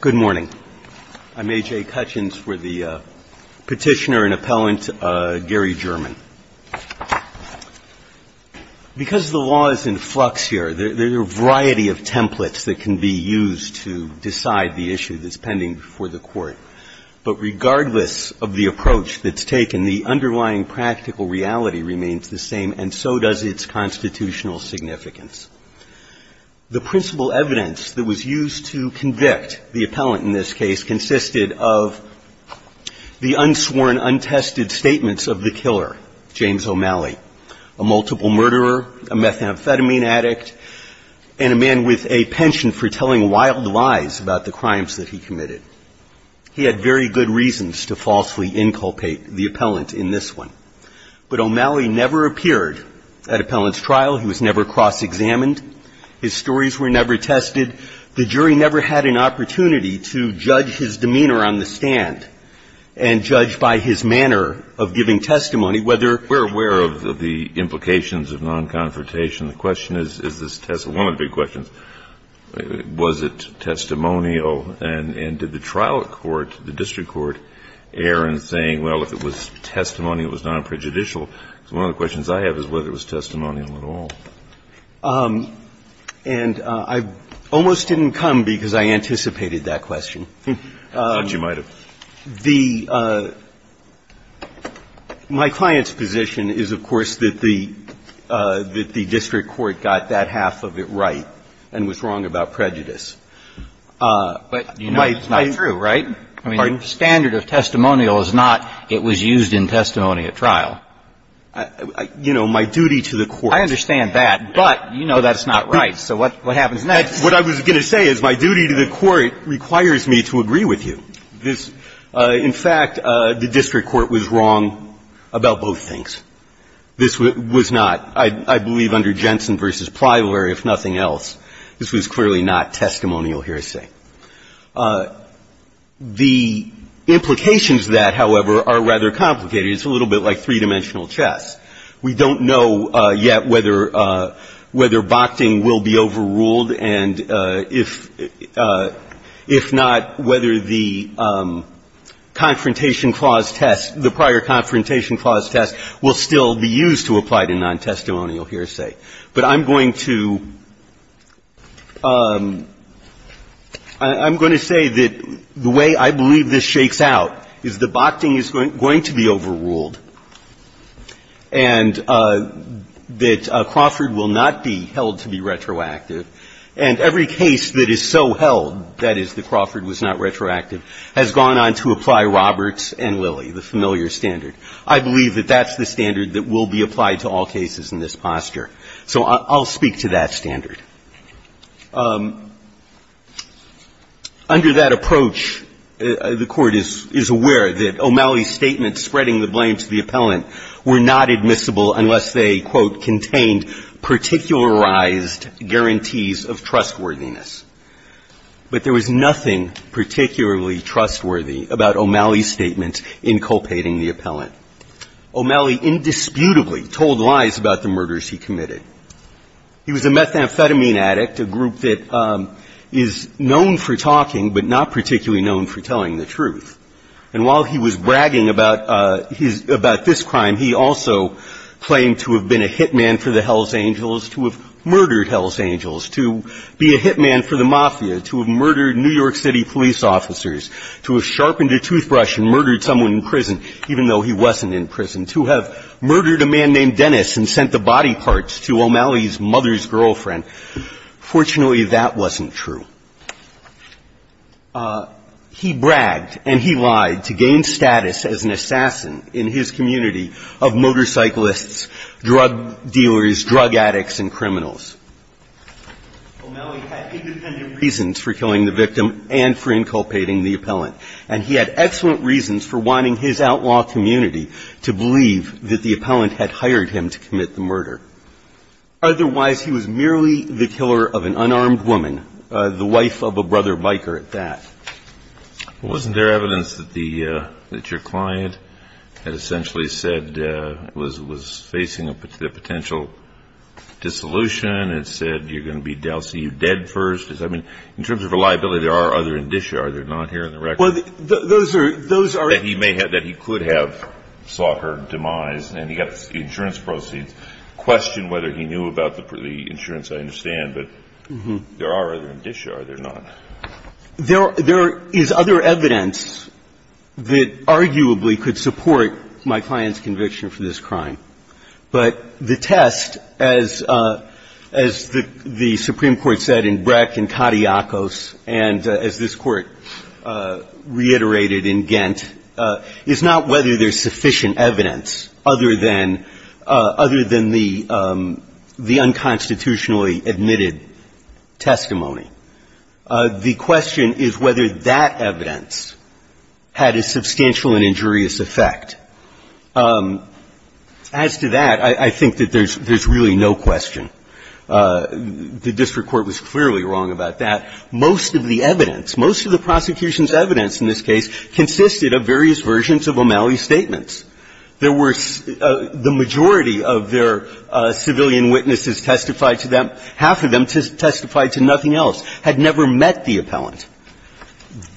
Good morning. I'm A.J. Cutchins for the Petitioner and Appellant, Gary German. Because the law is in flux here, there are a variety of templates that can be used to decide the issue that's pending before the Court. But regardless of the approach that's taken, the underlying practical reality remains the same, and so does its constitutional significance. The principal evidence that was used to convict the appellant in this case consisted of the unsworn, untested statements of the killer, James O'Malley, a multiple murderer, a methamphetamine addict, and a man with a penchant for telling wild lies about the crimes that he committed. He had very good reasons to falsely inculpate the appellant in this one. But O'Malley never appeared at appellant's trial. He was never cross-examined. His stories were never tested. The jury never had an opportunity to judge his demeanor on the stand and judge by his manner of giving testimony whether or not he was guilty of the crimes that he committed. And did the trial court, the district court, err in saying, well, if it was testimonial, it was not prejudicial? Because one of the questions I have is whether it was testimonial at all. And I almost didn't come because I anticipated that question. I thought you might have. The – my client's position is, of course, that the district court got that half of it right and was wrong about prejudice. But you know it's not true, right? Pardon? I mean, the standard of testimonial is not it was used in testimony at trial. You know, my duty to the court – I understand that, but you know that's not right. So what happens next? What I was going to say is my duty to the court requires me to agree with you. This – in fact, the district court was wrong about both things. This was not. I believe under Jensen v. Priory, if nothing else, this was clearly not testimonial hearsay. The implications of that, however, are rather complicated. It's a little bit like three-dimensional chess. We don't know yet whether – whether Bakhting will be overruled and if – if not, whether the confrontation clause test – the prior confrontation clause test will still be used to apply to nontestimonial hearsay. But I'm going to – I'm going to say that the way I believe this shakes out is that Bakhting is going to be overruled and that Crawford will not be held to be retroactive. And every case that is so held, that is, that Crawford was not retroactive, has gone on to apply Roberts and Lilly, the familiar standard. I believe that that's the standard that will be applied to all cases in this posture. So I'll speak to that standard. Under that approach, the Court is – is aware that O'Malley's statements spreading the blame to the appellant were not admissible unless they, quote, contained particularized guarantees of trustworthiness. But there was nothing particularly trustworthy about O'Malley's statement in culpating the appellant. O'Malley indisputably told lies about the murders he committed. He was a methamphetamine addict, a group that is known for talking but not particularly known for telling the truth. And while he was bragging about his – about this crime, he also claimed to have been a hitman for the Hells Angels, to have murdered Hells Angels, to be a hitman for the mafia, to have murdered New York City police officers, to have sharpened a toothbrush and murdered someone in prison, even though he wasn't in prison, to have murdered a man named Dennis and sent the body parts to O'Malley's mother's girlfriend. Fortunately, that wasn't true. He bragged and he lied to gain status as an assassin in his community of motorcyclists, drug dealers, drug addicts, and criminals. O'Malley had independent reasons for killing the victim and for inculpating the appellant. And he had excellent reasons for wanting his outlaw community to believe that the appellant had hired him to commit the murder. Otherwise, he was merely the killer of an unarmed woman, the wife of a brother biker at that. Well, wasn't there evidence that the – that your client had essentially said – was facing a potential dissolution and said, you're going to be – I'll see you dead first? I mean, in terms of reliability, there are other indicia, are there not, here in the case of O'Malley, that he may have – that he could have sought her demise. And he got the insurance proceeds. Question whether he knew about the insurance, I understand. But there are other indicia, are there not? There is other evidence that arguably could support my client's conviction for this crime. But the test, as the Supreme Court said in Breck and Katiakos, and as this Court reiterated in Ghent, is not whether there's sufficient evidence other than – other than the unconstitutionally admitted testimony. The question is whether that evidence had a substantial and injurious effect. As to that, I think that there's really no question. The district court was clearly wrong about that. Most of the evidence, most of the prosecution's evidence in this case consisted of various versions of O'Malley's statements. There were – the majority of their civilian witnesses testified to them. Half of them testified to nothing else, had never met the appellant.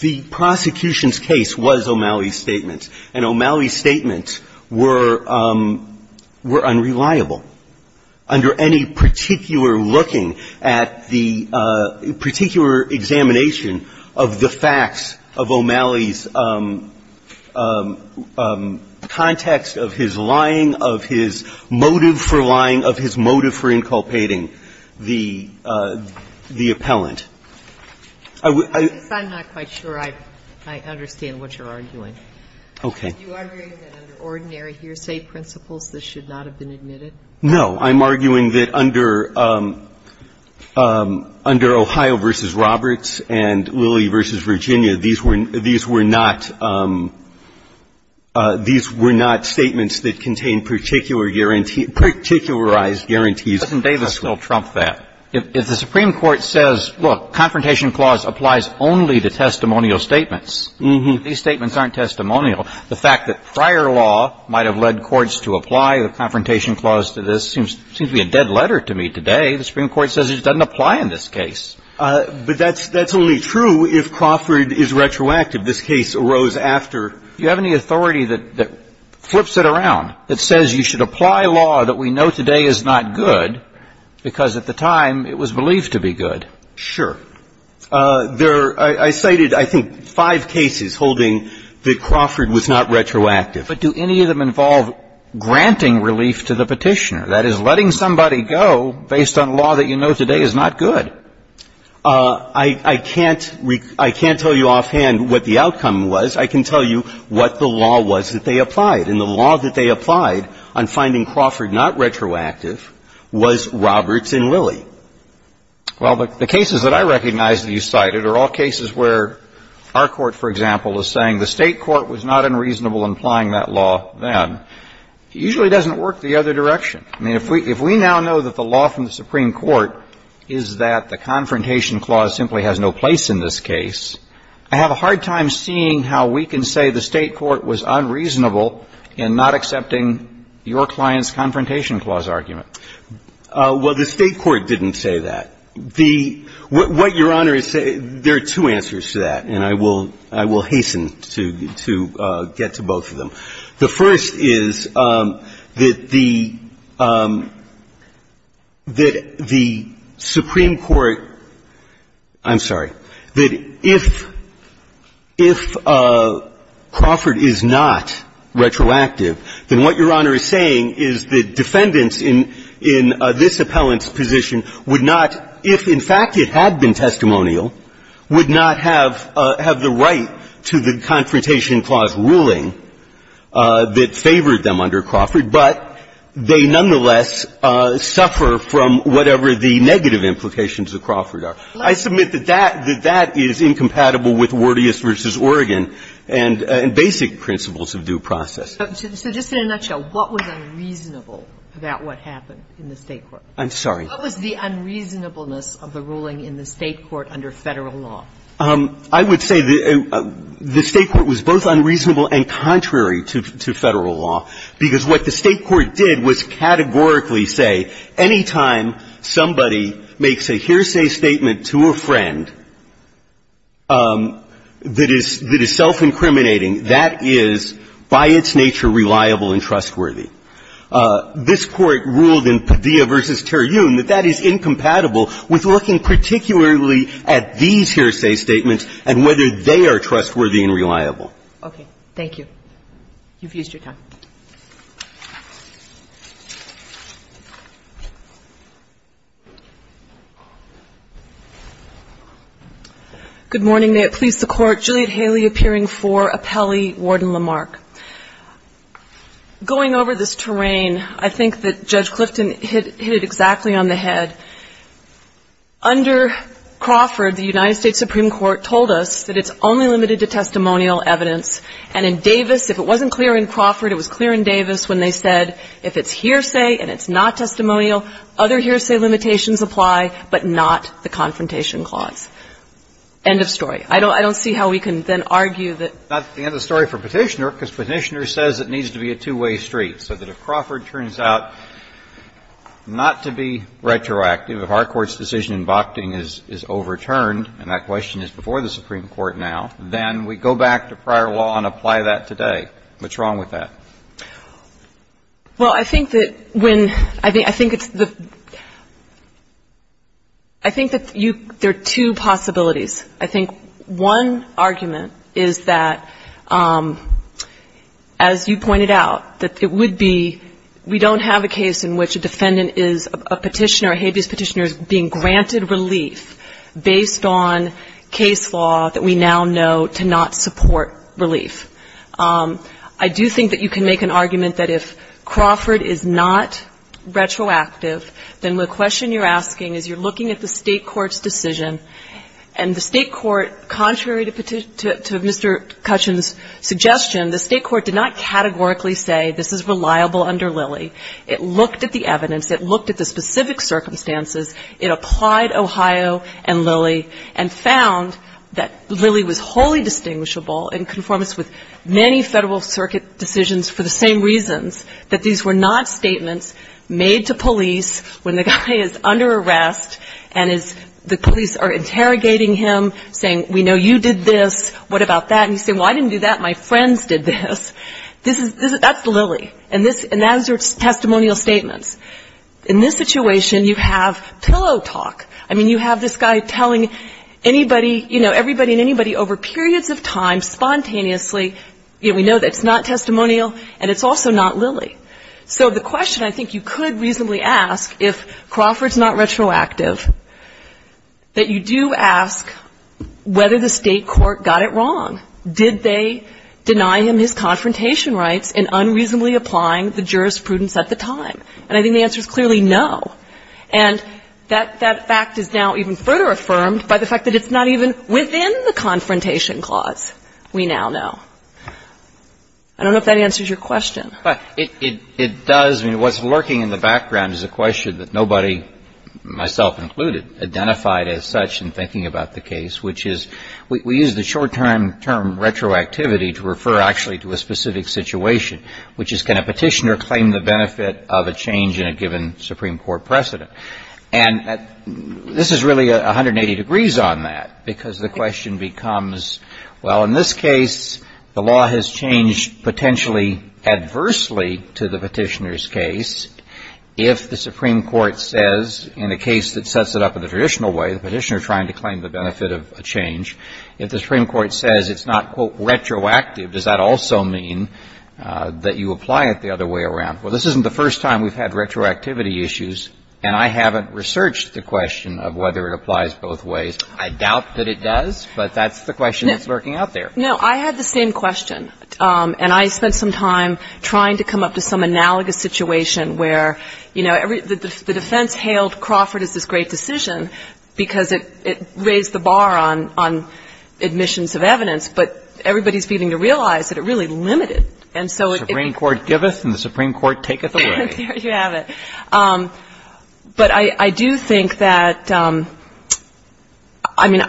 The prosecution's case was O'Malley's statement. And O'Malley's statements were – were unreliable. Under any particular looking at the particular examination of the facts of O'Malley's context of his lying, of his motive for lying, of his motive for inculpating the appellant, I would – I'm not quite sure I understand what you're arguing. Okay. Do you argue that under ordinary hearsay principles, this should not have been admitted? No. I'm arguing that under – under Ohio v. Roberts and Lilly v. Virginia, these were – these were not – these were not statements that contained particular guarantees – particularized guarantees. Doesn't Davis still trump that? If the Supreme Court says, look, confrontation clause applies only to testimonial statements, these statements aren't testimonial, the fact that prior law might have led courts to apply a confrontation clause to this seems – seems to be a dead letter to me today. The Supreme Court says it doesn't apply in this case. But that's – that's only true if Crawford is retroactive. This case arose after – Do you have any authority that – that flips it around, that says you should apply law that we know today is not good, because at the time, it was believed to be good? Sure. There – I cited, I think, five cases holding that Crawford was not retroactive. But do any of them involve granting relief to the Petitioner? That is, letting somebody go based on law that you know today is not good. I – I can't – I can't tell you offhand what the outcome was. I can tell you what the law was that they applied. And the law that they applied on finding Crawford not retroactive was Roberts and Lilly. Well, the cases that I recognize that you cited are all cases where our Court, for example, is saying the State court was not unreasonable in applying that law then, usually doesn't work the other direction. I mean, if we – if we now know that the law from the Supreme Court is that the Confrontation Clause simply has no place in this case, I have a hard time seeing how we can say the State court was unreasonable in not accepting your client's Confrontation Clause argument. Well, the State court didn't say that. The – what Your Honor is saying – there are two answers to that. And I will – I will hasten to – to get to both of them. The first is that the – that the Supreme Court – I'm sorry. That if – if Crawford is not retroactive, then what Your Honor is saying is the defendants in – in this appellant's position would not – if, in fact, it had been testimonial, would not have – have the right to the Confrontation Clause ruling that favored them under Crawford, but they nonetheless suffer from whatever the negative implications of Crawford are. I submit that that – that that is incompatible with Wordius v. Oregon and – and basic principles of due process. So just in a nutshell, what was unreasonable about what happened in the State court? I'm sorry. What was the unreasonableness of the ruling in the State court under Federal law? I would say the – the State court was both unreasonable and contrary to – to Federal law, because what the State court did was categorically say, any time somebody makes a hearsay statement to a friend that is – that is self-incriminating, that is, by its nature, reliable and trustworthy. This Court ruled in Padilla v. Terry Ewing that that is incompatible with looking particularly at these hearsay statements and whether they are trustworthy and reliable. Okay. Thank you. You've used your time. Good morning. May it please the Court. Juliet Haley appearing for appellee, Warden Lamarck. Going over this terrain, I think that Judge Clifton hit – hit it exactly on the head. Under Crawford, the United States Supreme Court told us that it's only limited to testimonial evidence. And in Davis, if it wasn't clear in Crawford, it was clear in Davis when they said, if it's hearsay and it's not testimonial, other hearsay limitations apply, but not the confrontation clause. End of story. I don't – I don't see how we can then argue that – If the expeditioner says it needs to be a two-way street, so that if Crawford turns out not to be retroactive, if our Court's decision in Bockding is overturned and that question is before the Supreme Court now, then we go back to prior law and apply that today. What's wrong with that? Well, I think that when – I think it's the – I think that you – there are two possibilities. I think one argument is that, as you pointed out, that it would be – we don't have a case in which a defendant is a petitioner, a habeas petitioner is being granted relief based on case law that we now know to not support relief. I do think that you can make an argument that if Crawford is not retroactive, then the question you're asking is you're looking at the State court's decision and the State court, contrary to Mr. Cutchin's suggestion, the State court did not categorically say this is reliable under Lilly. It looked at the evidence. It looked at the specific circumstances. It applied Ohio and Lilly and found that Lilly was wholly distinguishable in conformance with many Federal Circuit decisions for the same reasons, that these were not statements made to police when the guy is under arrest and is – the police are interrogating him, saying, we know you did this. What about that? And you say, well, I didn't do that. My friends did this. This is – this is – that's Lilly. And this – and those are testimonial statements. In this situation, you have pillow talk. I mean, you have this guy telling anybody, you know, everybody and anybody over periods of time, spontaneously, you know, we know that it's not testimonial and it's also not Lilly. So the question I think you could reasonably ask, if Crawford's not retroactive, that you do ask whether the State court got it wrong. Did they deny him his confrontation rights in unreasonably applying the jurisprudence at the time? And I think the answer is clearly no. And that – that fact is now even further affirmed by the fact that it's not even within the confrontation clause. We now know. I don't know if that answers your question. But it – it does. I mean, what's lurking in the background is a question that nobody, myself included, identified as such in thinking about the case, which is – we use the short-term term retroactivity to refer actually to a specific situation, which is can a petitioner claim the benefit of a change in a given Supreme Court precedent? And this is really 180 degrees on that, because the question becomes, well, in this case, the law has changed potentially adversely to the petitioner's case. If the Supreme Court says in a case that sets it up in the traditional way, the petitioner trying to claim the benefit of a change, if the Supreme Court says it's not, quote, retroactive, does that also mean that you apply it the other way around? Well, this isn't the first time we've had retroactivity issues, and I haven't researched the question of whether it applies both ways. I doubt that it does, but that's the question that's lurking out there. No, I had the same question. And I spent some time trying to come up to some analogous situation where, you know, the defense hailed Crawford as this great decision because it – it raised the bar on – on admissions of evidence, but everybody's beginning to realize that it really limited. Supreme Court giveth and the Supreme Court taketh away. There you have it. But I do think that, I mean,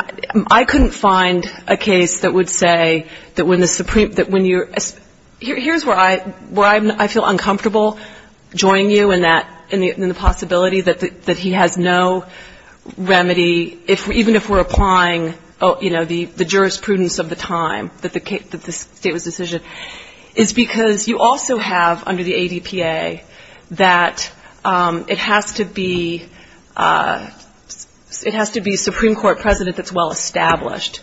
I couldn't find a case that would say that when the Supreme – that when you're – here's where I – where I feel uncomfortable joining you in that – in the possibility that he has no remedy, even if we're applying, you know, the jurisprudence of the time, that the state was the decision, is because you also have under the ADPA that the – it has to be – it has to be a Supreme Court president that's well established.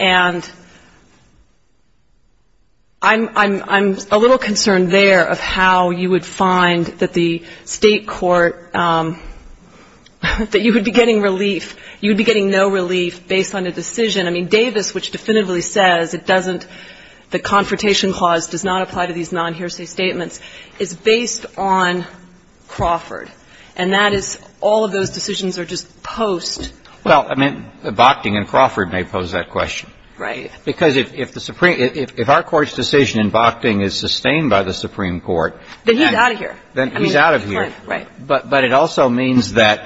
And I'm – I'm – I'm a little concerned there of how you would find that the state court – that you would be getting relief – you would be getting no relief based on a decision. I mean, Davis, which definitively says it doesn't – the confrontation clause does not apply to these non-hearsay statements, is based on Crawford. And that is – all of those decisions are just post. Well, I mean, Bochting and Crawford may pose that question. Right. Because if the Supreme – if our Court's decision in Bochting is sustained by the Supreme Court, then he's out of here. Then he's out of here. Right. But it also means that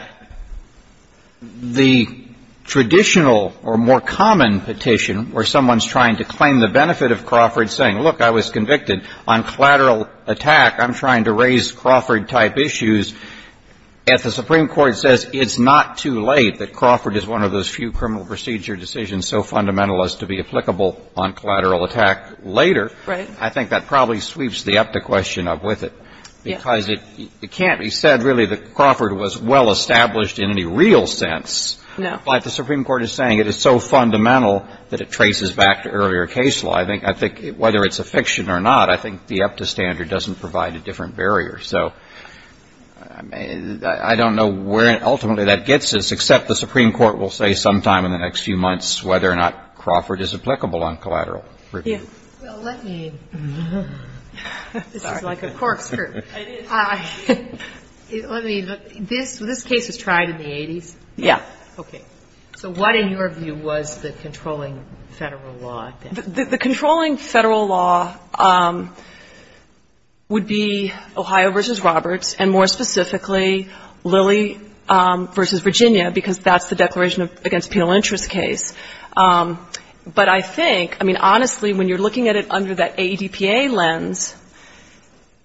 the traditional or more common petition where someone's trying to claim the benefit of Crawford saying, look, I was convicted on collateral attack. I'm trying to raise Crawford-type issues. If the Supreme Court says it's not too late that Crawford is one of those few criminal procedure decisions so fundamental as to be applicable on collateral attack later – Right. I think that probably sweeps the up the question up with it. Yeah. Because it – it can't be said really that Crawford was well established in any real sense. No. But the Supreme Court is saying it is so fundamental that it traces back to earlier case law. I think – I think whether it's a fiction or not, I think the EPTA standard doesn't provide a different barrier. So I don't know where ultimately that gets us, except the Supreme Court will say sometime in the next few months whether or not Crawford is applicable on collateral review. Yeah. Well, let me – this is like a corkscrew. It is. Let me – this case was tried in the 80s. Yeah. Okay. So what, in your view, was the controlling Federal law? The controlling Federal law would be Ohio v. Roberts and, more specifically, Lilly v. Virginia, because that's the Declaration Against Penal Interest case. But I think – I mean, honestly, when you're looking at it under that AEDPA lens,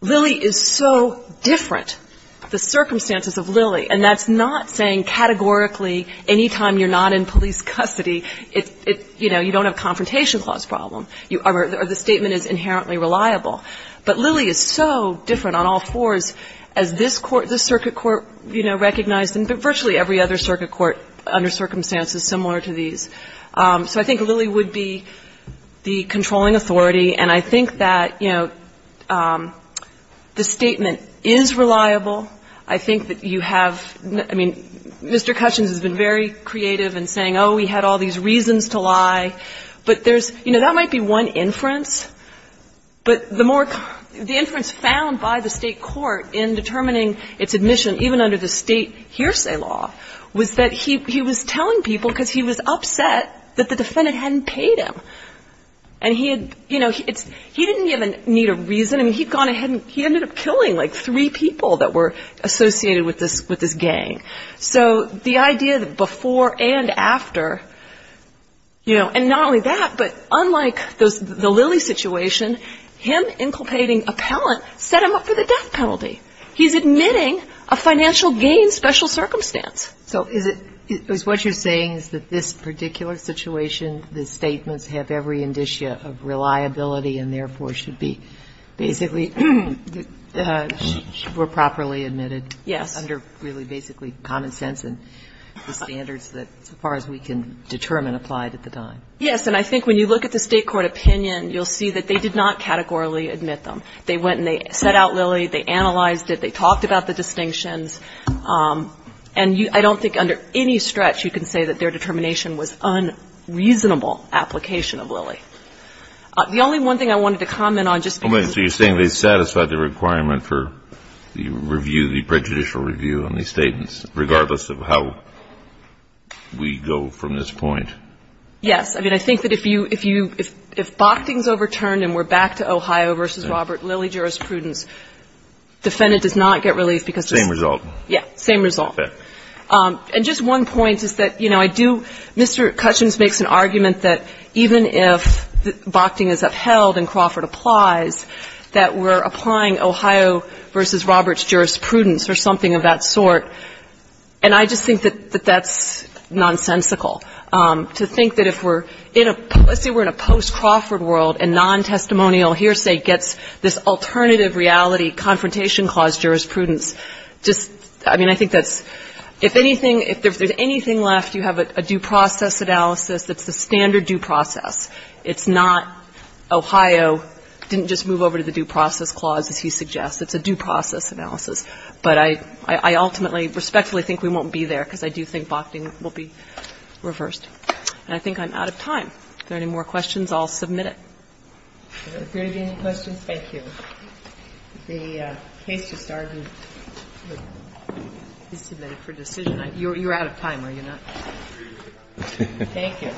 Lilly is so different, the circumstances of Lilly. And that's not saying categorically any time you're not in police custody, it's – you know, you don't have a confrontation clause problem. Or the statement is inherently reliable. But Lilly is so different on all fours, as this court – this circuit court, you know, recognized, and virtually every other circuit court under circumstances similar to these. So I think Lilly would be the controlling authority. And I think that, you know, the statement is reliable. I think that you have – I mean, Mr. Cushins has been very creative in saying, oh, we had all these reasons to lie. But there's – you know, that might be one inference. But the more – the inference found by the state court in determining its admission, even under the state hearsay law, was that he was telling people, because he was upset that the defendant hadn't paid him. And he had – you know, he didn't even need a reason. I mean, he'd gone ahead and – he ended up killing, like, three people that were associated with this gang. So the idea that before and after – you know, and not only that, but unlike the Lilly situation, him inculpating appellant set him up for the death penalty. He's admitting a financial gain special circumstance. So is it – is what you're saying is that this particular situation, the statements have every indicia of reliability and therefore should be basically – were properly admitted? Yes. Under really basically common sense and the standards that, so far as we can determine, applied at the time? Yes. And I think when you look at the state court opinion, you'll see that they did not categorically admit them. They went and they set out Lilly. They analyzed it. They talked about the distinctions. And you – I don't think under any stretch you can say that their determination was unreasonable application of Lilly. The only one thing I wanted to comment on just – So you're saying they satisfied the requirement for the review, the prejudicial review on these statements, regardless of how we go from this point? Yes. I mean, I think that if you – if Bochting's overturned and we're back to Ohio versus Robert, Lilly jurisprudence, defendant does not get relief because – Same result. Yes, same result. Okay. And just one point is that, you know, I do – Mr. Cutchins makes an argument that even if Bochting is upheld and Crawford applies, that we're applying Ohio versus Robert's jurisprudence or something of that sort. And I just think that that's nonsensical to think that if we're in a – let's say we're in a post-Crawford world and non-testimonial hearsay gets this alternative reality confrontation clause jurisprudence. Just – I mean, I think that's – if anything – if there's anything left, you have a due process analysis that's the standard due process. It's not Ohio didn't just move over to the due process clause, as he suggests. It's a due process analysis. But I – I ultimately respectfully think we won't be there because I do think Bochting will be reversed. And I think I'm out of time. If there are any more questions, I'll submit it. Is there going to be any questions? Thank you. The case just argued. He's submitted for decision. You're out of time, are you not? Thank you.